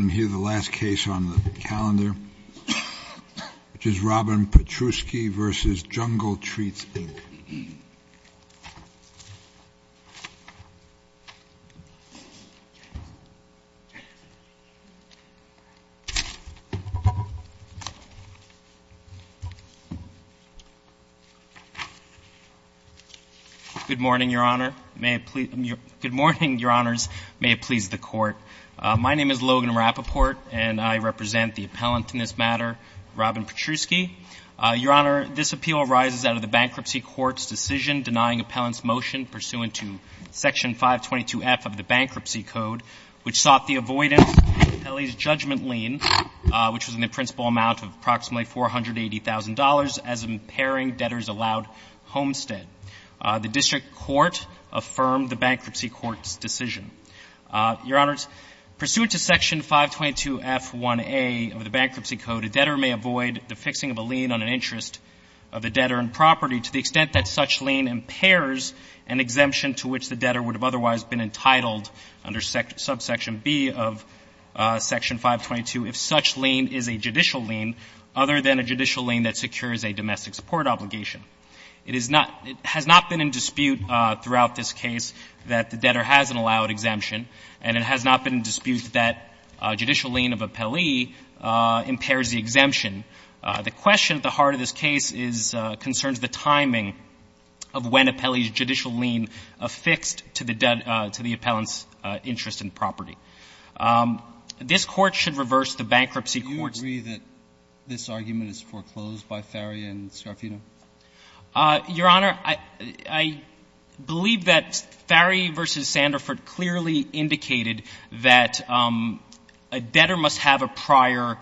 and hear the last case on the calendar, which is Robin Patrusky v. Jungle Treats, Inc. Good morning, Your Honors. May it please the Court. My name is Logan Rapoport, and I represent the appellant in this matter, Robin Patrusky. Your Honor, this appeal arises out of the Bankruptcy Court's decision denying appellant's motion pursuant to Section 522F of the Bankruptcy Code, which sought the avoidance of the appellee's judgment lien, which was in the principal amount of approximately $480,000, as impairing debtors allowed homestead. The District Court affirmed the Bankruptcy Court's decision. Your Honors, pursuant to Section 522F1A of the Bankruptcy Code, a debtor may avoid the fixing of a lien on an interest of a debtor and property to the extent that such lien impairs an exemption to which the debtor would have otherwise been entitled under subsection B of Section 522 if such lien is a judicial lien other than a judicial lien that secures a domestic support obligation. It is not — it has not been in dispute throughout this case that the debtor has an allowed exemption, and it has not been in dispute that a judicial lien of appellee impairs the exemption. The question at the heart of this case is — concerns the timing of when appellee's judicial lien affixed to the debt — to the appellant's interest in property. This Court should reverse the Bankruptcy Court's — Your Honor, I believe that Ferry v. Sanderford clearly indicated that a debtor must have a prior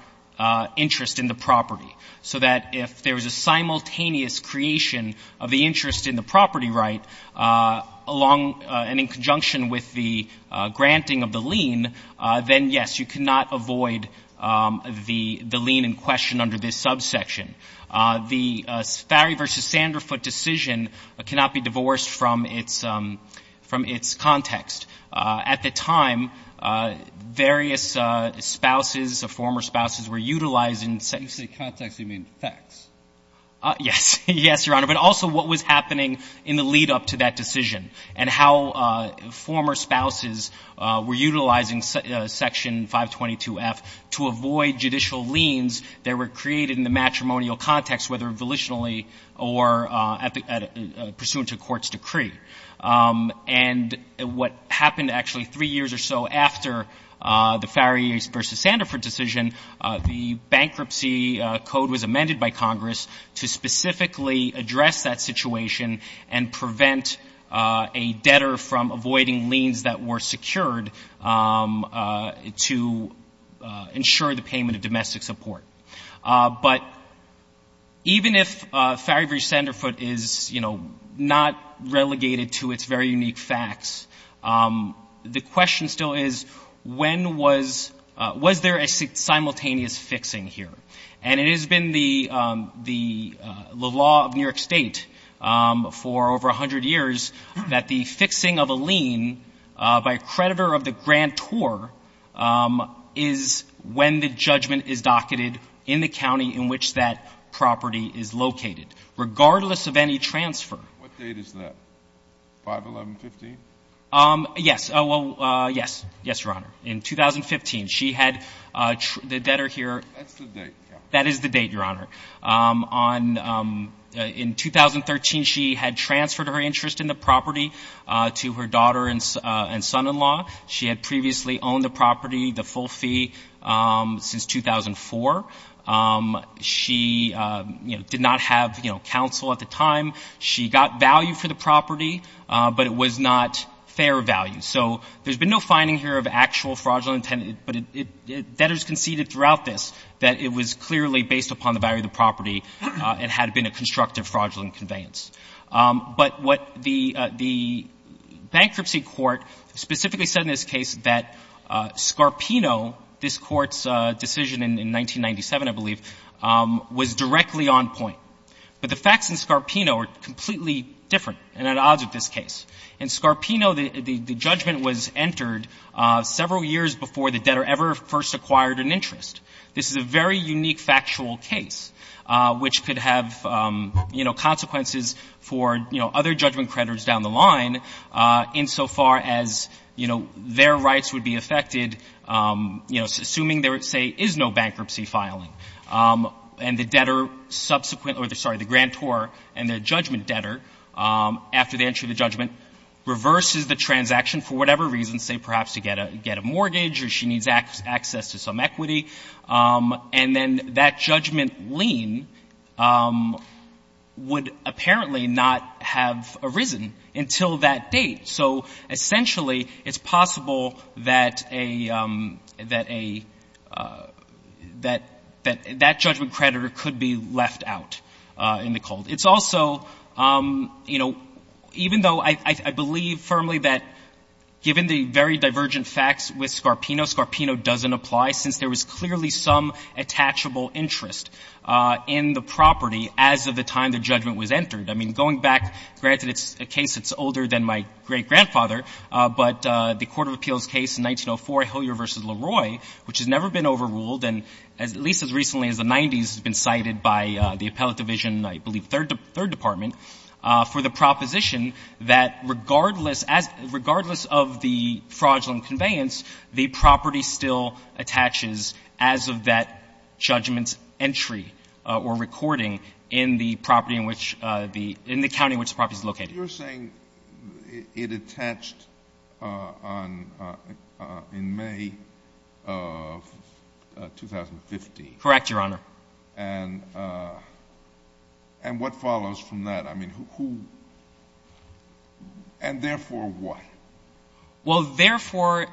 interest in the property, so that if there is a simultaneous creation of the interest in the property right along — and in conjunction with the granting of the lien, then, yes, you cannot avoid the lien in question under this subsection. The Ferry v. Sanderford decision cannot be divorced from its — from its context. At the time, various spouses, former spouses, were utilizing — If you say context, you mean facts. Yes. Yes, Your Honor. But also what was happening in the lead-up to that decision and how former spouses were utilizing Section 522F to avoid judicial liens that were created in the matrimonial context, whether volitionally or pursuant to a court's decree. And what happened actually three years or so after the Ferry v. Sanderford decision, the Bankruptcy Code was amended by Congress to specifically address that situation and prevent a debtor from avoiding liens that were secured to ensure the payment of domestic support. But even if Ferry v. Sanderford is, you know, not relegated to its very unique facts, the question still is, when was — was there a simultaneous fixing here? And it has been the — the law of New York State for over 100 years that the fixing of a lien by a creditor of the grantor is when the judgment is docketed in the county in which that property is located, regardless of any transfer. What date is that? 5-11-15? Yes. Well, yes. Yes, Your Honor. In 2015, she had — the debtor here — That's the date. That is the date, Your Honor. On — in 2013, she had transferred her interest in the property to her daughter and son-in-law. She had previously owned the property, the full fee, since 2004. She, you know, did not have, you know, counsel at the time. She got value for the property, but it was not fair value. So there's been no finding here of actual fraudulent intent, but it — debtors conceded throughout this that it was clearly based upon the value of the property and had been a constructive fraudulent conveyance. But what the — the bankruptcy court specifically said in this case that Scarpino, this Court's decision in 1997, I believe, was directly on point. But the facts in Scarpino are completely different and at odds with this case. In Scarpino, the judgment was entered several years before the debtor ever first acquired an interest. This is a very unique factual case which could have, you know, consequences for, you know, other judgment creditors down the line insofar as, you know, their rights would be affected, you know, assuming there, say, is no bankruptcy filing. And the debtor subsequent — or, sorry, the grantor and the judgment creditor, after the entry of the judgment, reverses the transaction for whatever reason, say, perhaps to get a — get a mortgage or she needs access to some equity. And then that judgment lien would apparently not have arisen until that date. So essentially, it's possible that a — that a — that — that judgment creditor could be left out in the cold. It's also, you know, even though I — I believe firmly that given the very divergent facts with Scarpino, Scarpino doesn't apply since there was clearly some attachable interest in the property as of the time the judgment was entered. I mean, going back, granted it's a case that's older than my great-grandfather, but the Court of Appeals case in 1904, Hilliard v. LaRoy, which has never been overruled and at least as recently as the 90s has been cited by the Appellate Division, I believe, Third Department, for the proposition that regardless — regardless of the fraudulent conveyance, the property still attaches as of that judgment's entry or recording in the property in which the — in the county in which the property is located. You're saying it attached on — in May of 2015. Correct, Your Honor. And what follows from that? I mean, who — and therefore what? Well, therefore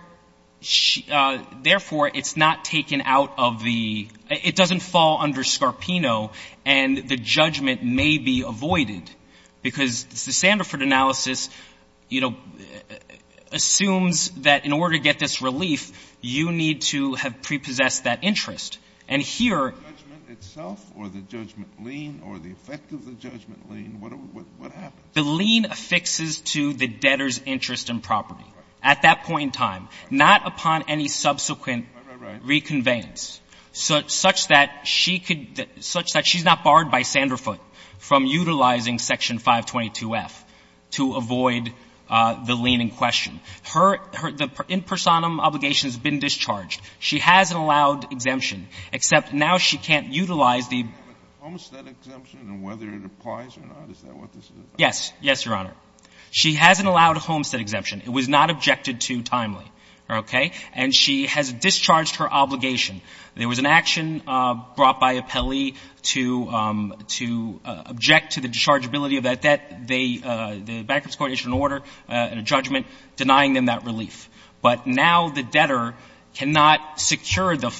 — therefore it's not taken out of the — it doesn't fall under Scarpino, and the judgment may be avoided, because the Sandiford analysis, you know, assumes that in order to get this relief, you need to have prepossessed that interest. And here — The judgment itself or the judgment lien or the effect of the judgment lien? What happens? The lien affixes to the debtor's interest in property at that point in time, not upon any subsequent reconveyance, such that she could — such that she's not barred by Sandiford from utilizing Section 522F to avoid the lien in question. Her — the impersonum obligation has been discharged. She has an allowed exemption, except now she can't utilize the — Almost that exemption and whether it applies or not, is that what this is? Yes. Yes, Your Honor. She has an allowed homestead exemption. It was not objected to timely. Okay? And she has discharged her obligation. There was an action brought by Appellee to — to object to the dischargeability of that debt. They — the Bankruptcy Coordination Order, a judgment denying them that relief. But now the debtor cannot secure the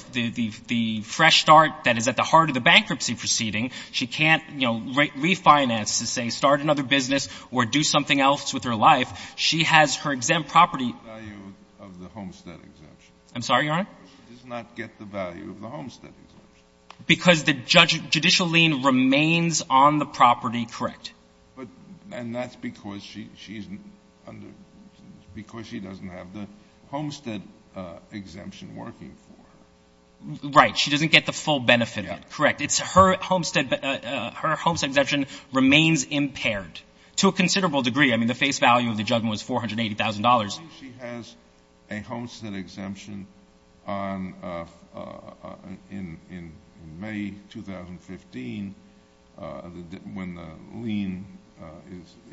— the fresh start that is at the heart of the bankruptcy proceeding. She can't, you know, refinance to, say, start another business or do something else with her life. She has her exempt property — She does not get the value of the homestead exemption. I'm sorry, Your Honor? She does not get the value of the homestead exemption. Because the judicial lien remains on the property, correct. But — and that's because she — she's under — because she doesn't have the homestead exemption working for her. Right. She doesn't get the full benefit of it. Correct. It's her homestead — her homestead exemption remains impaired to a considerable degree. I mean, the face value of the judgment was $480,000. Why do you think she has a homestead exemption on — in May 2015, when the lien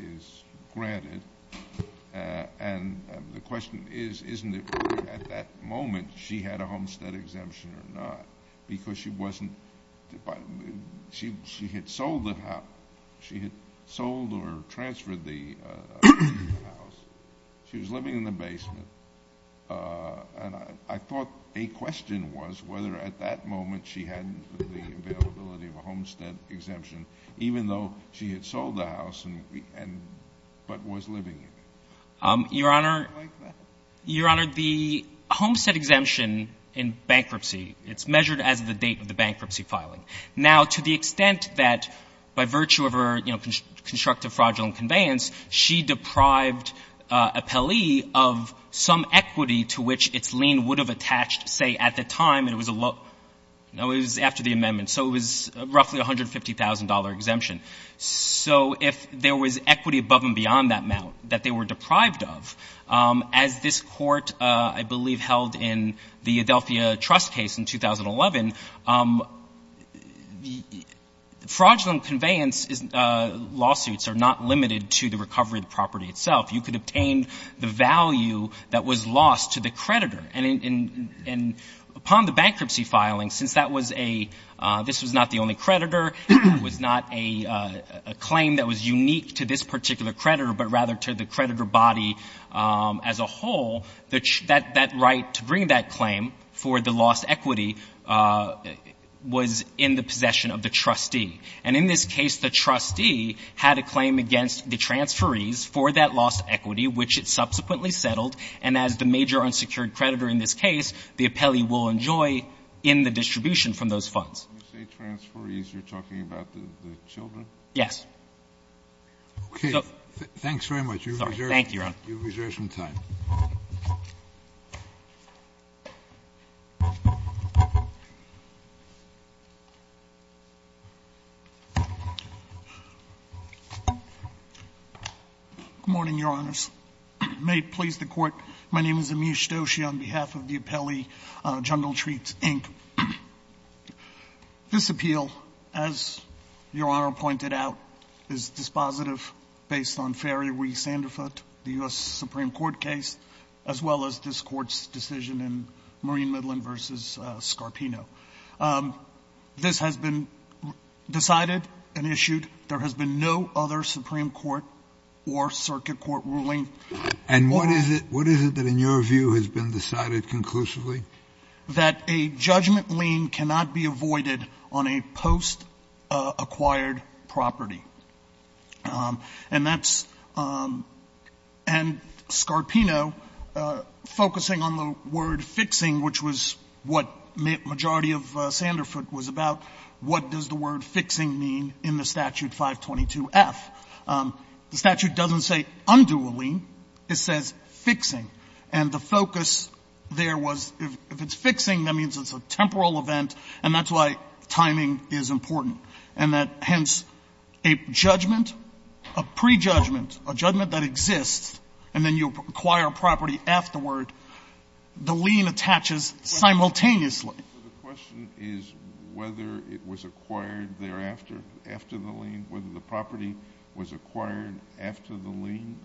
is granted? And the question is, isn't it at that moment she had a homestead exemption or not? Because she wasn't — she had sold the house. She had sold or transferred the house. She was living in the basement. And I thought a question was whether at that moment she had the availability of a homestead exemption, even though she had sold the house and — but was living in it. Your Honor, Your Honor, the homestead exemption in bankruptcy, it's measured as the date of the bankruptcy filing. Now, to the extent that by virtue of her, you know, constructive fraudulent conveyance, she deprived a Pelley of some equity to which its lien would have attached, say, at the time it was — no, it was after the amendment. So it was roughly a $150,000 exemption. So if there was equity above and beyond that amount that they were deprived of, as this Court, I believe, held in the Adelphia Trust case in 2011, fraudulent conveyance lawsuits are not limited to the recovery of the property itself. You could obtain the value that was lost to the creditor. And upon the bankruptcy filing, since that was a — this was not the only creditor, it was not a claim that was unique to this particular creditor, but rather to the whole, that right to bring that claim for the lost equity was in the possession of the trustee. And in this case, the trustee had a claim against the transferees for that lost equity, which it subsequently settled. And as the major unsecured creditor in this case, the appellee will enjoy in the distribution from those funds. Kennedy. When you say transferees, you're talking about the children? Bursch. Yes. Kennedy. Okay. Thanks very much. Bursch. Thank you, Your Honor. You have reserved some time. Good morning, Your Honors. May it please the Court, my name is Amish Doshi on behalf of the appellee, Jungle Treats, Inc. This appeal, as Your Honor pointed out, is dispositive based on Ferry Ree Sanderfoot, the U.S. Supreme Court case, as well as this Court's decision in Marine Midland v. Scarpino. This has been decided and issued. There has been no other Supreme Court or circuit court ruling. And what is it that, in your view, has been decided conclusively? That a judgment lien cannot be avoided on a post-acquired property. And that's why, in the case of Sanderfoot v. Scarpino, focusing on the word fixing, which was what majority of Sanderfoot was about, what does the word fixing mean in the statute 522F? The statute doesn't say undo a lien. It says fixing. And the focus there was if it's fixing, that means it's a temporal event, and that's why timing is important, and that, hence, a judgment, a prejudgment, a judgment that exists, and then you acquire a property afterward, the lien attaches simultaneously. So the question is whether it was acquired thereafter, after the lien, whether the property was acquired after the lien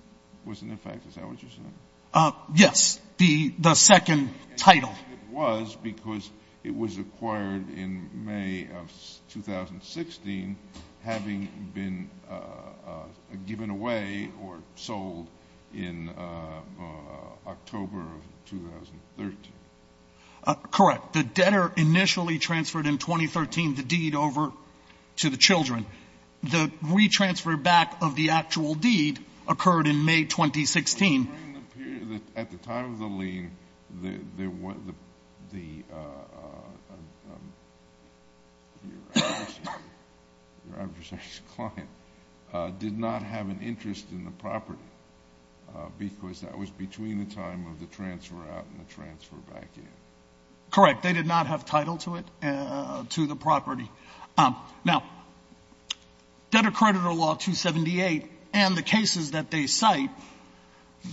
was in effect. Is that what you're saying? Yes. The second title. It was because it was acquired in May of 2016, having been given away or sold in October of 2013. Correct. The debtor initially transferred in 2013 the deed over to the children. The retransfer back of the actual deed occurred in May 2016. At the time of the lien, your adversary's client did not have an interest in the property because that was between the time of the transfer out and the transfer back in. Correct. They did not have title to it, to the property. Now, Debt Accreditor Law 278 and the cases that they cite,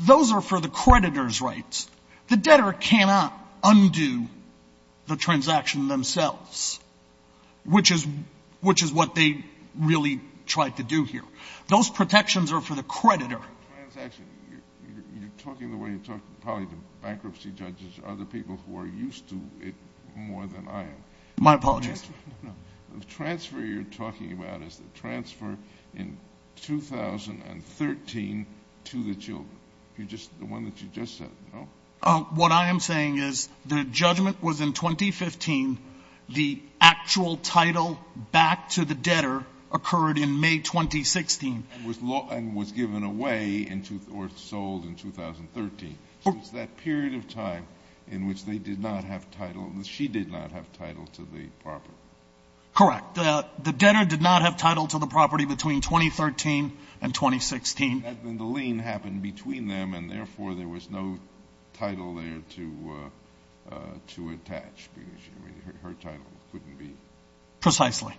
those are for the creditor's rights. The debtor cannot undo the transaction themselves, which is what they really tried to do here. Those protections are for the creditor. The transaction, you're talking the way you talk probably to bankruptcy judges or other people who are used to it more than I am. My apologies. The transfer you're talking about is the transfer in 2013 to the children. The one that you just said, no? What I am saying is the judgment was in 2015. The actual title back to the debtor occurred in May 2016. And was given away or sold in 2013. Since that period of time in which they did not have title, she did not have title to the property. Correct. The debtor did not have title to the property between 2013 and 2016. And the lien happened between them, and therefore there was no title there to attach. Her title couldn't be. Precisely.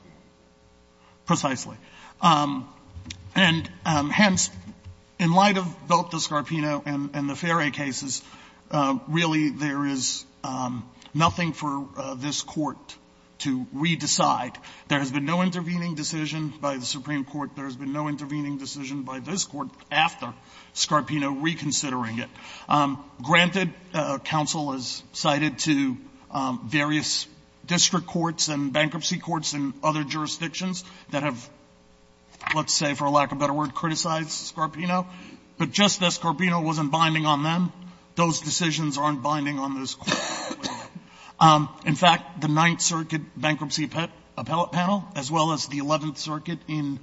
Precisely. And hence, in light of both the Scarpino and the Ferre cases, really there is nothing for this Court to re-decide. There has been no intervening decision by the Supreme Court. There has been no intervening decision by this Court after Scarpino reconsidering it. Granted, counsel has cited to various district courts and bankruptcy courts and other jurisdictions that have, let's say for lack of a better word, criticized Scarpino. But just as Scarpino wasn't binding on them, those decisions aren't binding on this Court. In fact, the Ninth Circuit Bankruptcy Appellate Panel, as well as the Eleventh Circuit in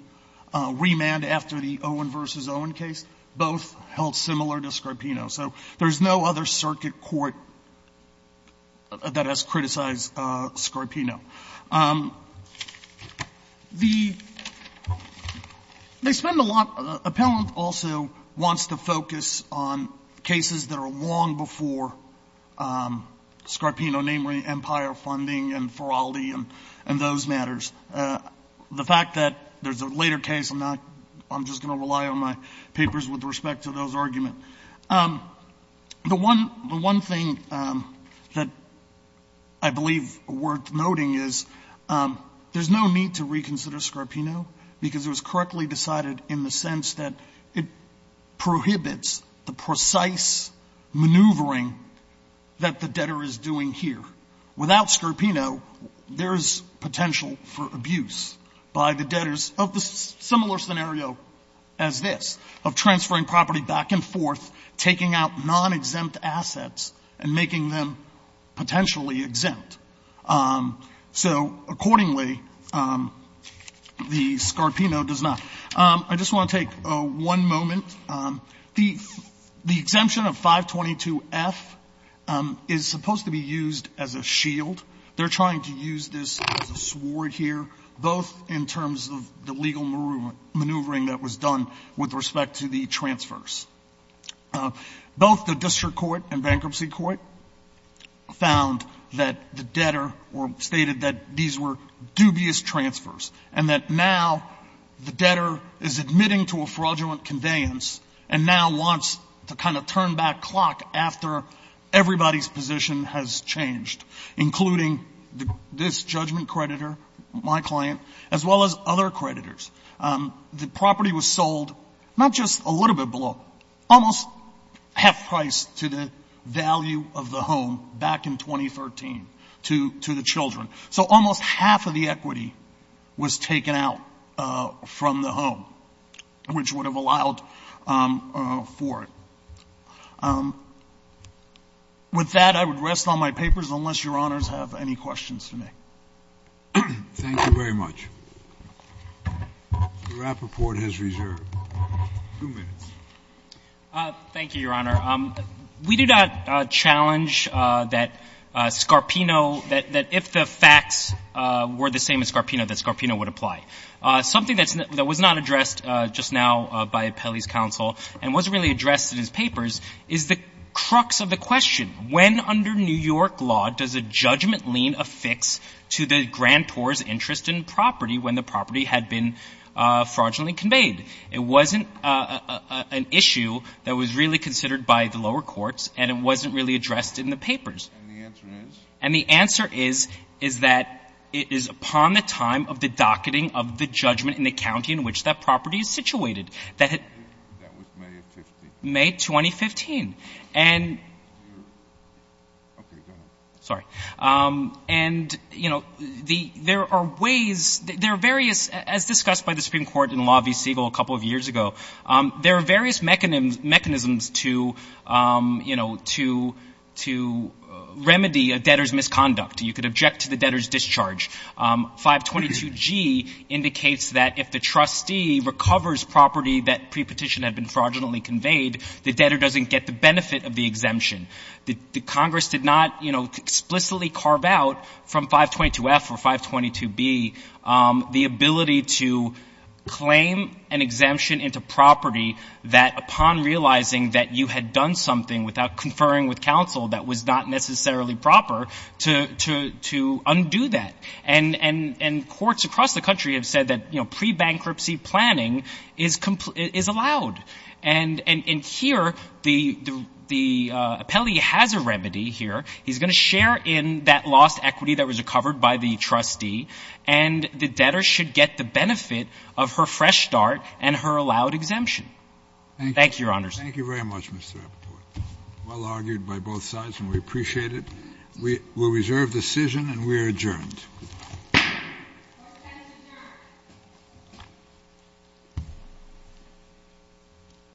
remand after the Owen v. Owen case, both held similar to Scarpino. So there is no other circuit court that has criticized Scarpino. The — they spend a lot — Appellant also wants to focus on cases that are long before Scarpino, namely Empire Funding and Feraldi and those matters. The fact that there is a later case, I'm not — I'm just going to rely on my papers with respect to those arguments. The one — the one thing that I believe is worth noting is there is no need to reconsider Scarpino because it was correctly decided in the sense that it prohibits the precise maneuvering that the debtor is doing here. Without Scarpino, there is potential for abuse by the debtors of a similar scenario as this, of transferring property back and forth, taking out non-exempt assets and making them potentially exempt. So accordingly, the Scarpino does not. I just want to take one moment. The — the exemption of 522F is supposed to be used as a shield. They're trying to use this as a sword here, both in terms of the legal maneuvering that was done with respect to the transfers. Both the district court and bankruptcy court found that the debtor — or stated that these were dubious transfers and that now the debtor is admitting to a fraudulent conveyance and now wants to kind of turn back clock after everybody's position has changed, including this judgment creditor, my client, as well as other creditors. The property was sold not just a little bit below, almost half price to the value of the home back in 2013 to — to the children. So almost half of the equity was taken out from the home, which would have allowed for it. With that, I would rest on my papers, unless Your Honors have any questions for me. Thank you very much. The rap report has reserved. Two minutes. Thank you, Your Honor. We do not challenge that Scarpino — that if the facts were the same as Scarpino, that Scarpino would apply. Something that was not addressed just now by Pelley's counsel and wasn't really addressed in his papers is the crux of the question. When under New York law does a judgment lien affix to the grantor's interest in property when the property had been fraudulently conveyed? It wasn't an issue that was really considered by the lower courts, and it wasn't really addressed in the papers. And the answer is? And the answer is, is that it is upon the time of the docketing of the judgment in the county in which that property is situated. That was May of 2015. May 2015. And — Okay. Go ahead. Sorry. And, you know, there are ways — there are various — as discussed by the Supreme Court in Law v. Siegel a couple of years ago, there are various mechanisms to, you know, to remedy a debtor's misconduct. You could object to the debtor's discharge. 522G indicates that if the trustee recovers property that pre-petition had been fraudulently conveyed, the debtor doesn't get the benefit of the exemption. The Congress did not, you know, explicitly carve out from 522F or 522B the ability to claim an exemption into property that upon realizing that you had done something without conferring with counsel that was not necessarily proper, to undo that. And courts across the country have said that, you know, pre-bankruptcy planning is allowed. And here, the appellee has a remedy here. He's going to share in that lost equity that was recovered by the trustee, and the debtor should get the benefit of her fresh start and her allowed exemption. Thank you, Your Honors. Thank you very much, Mr. Apatow. Well argued by both sides, and we appreciate it. We will reserve the decision, and we are adjourned. Court is adjourned.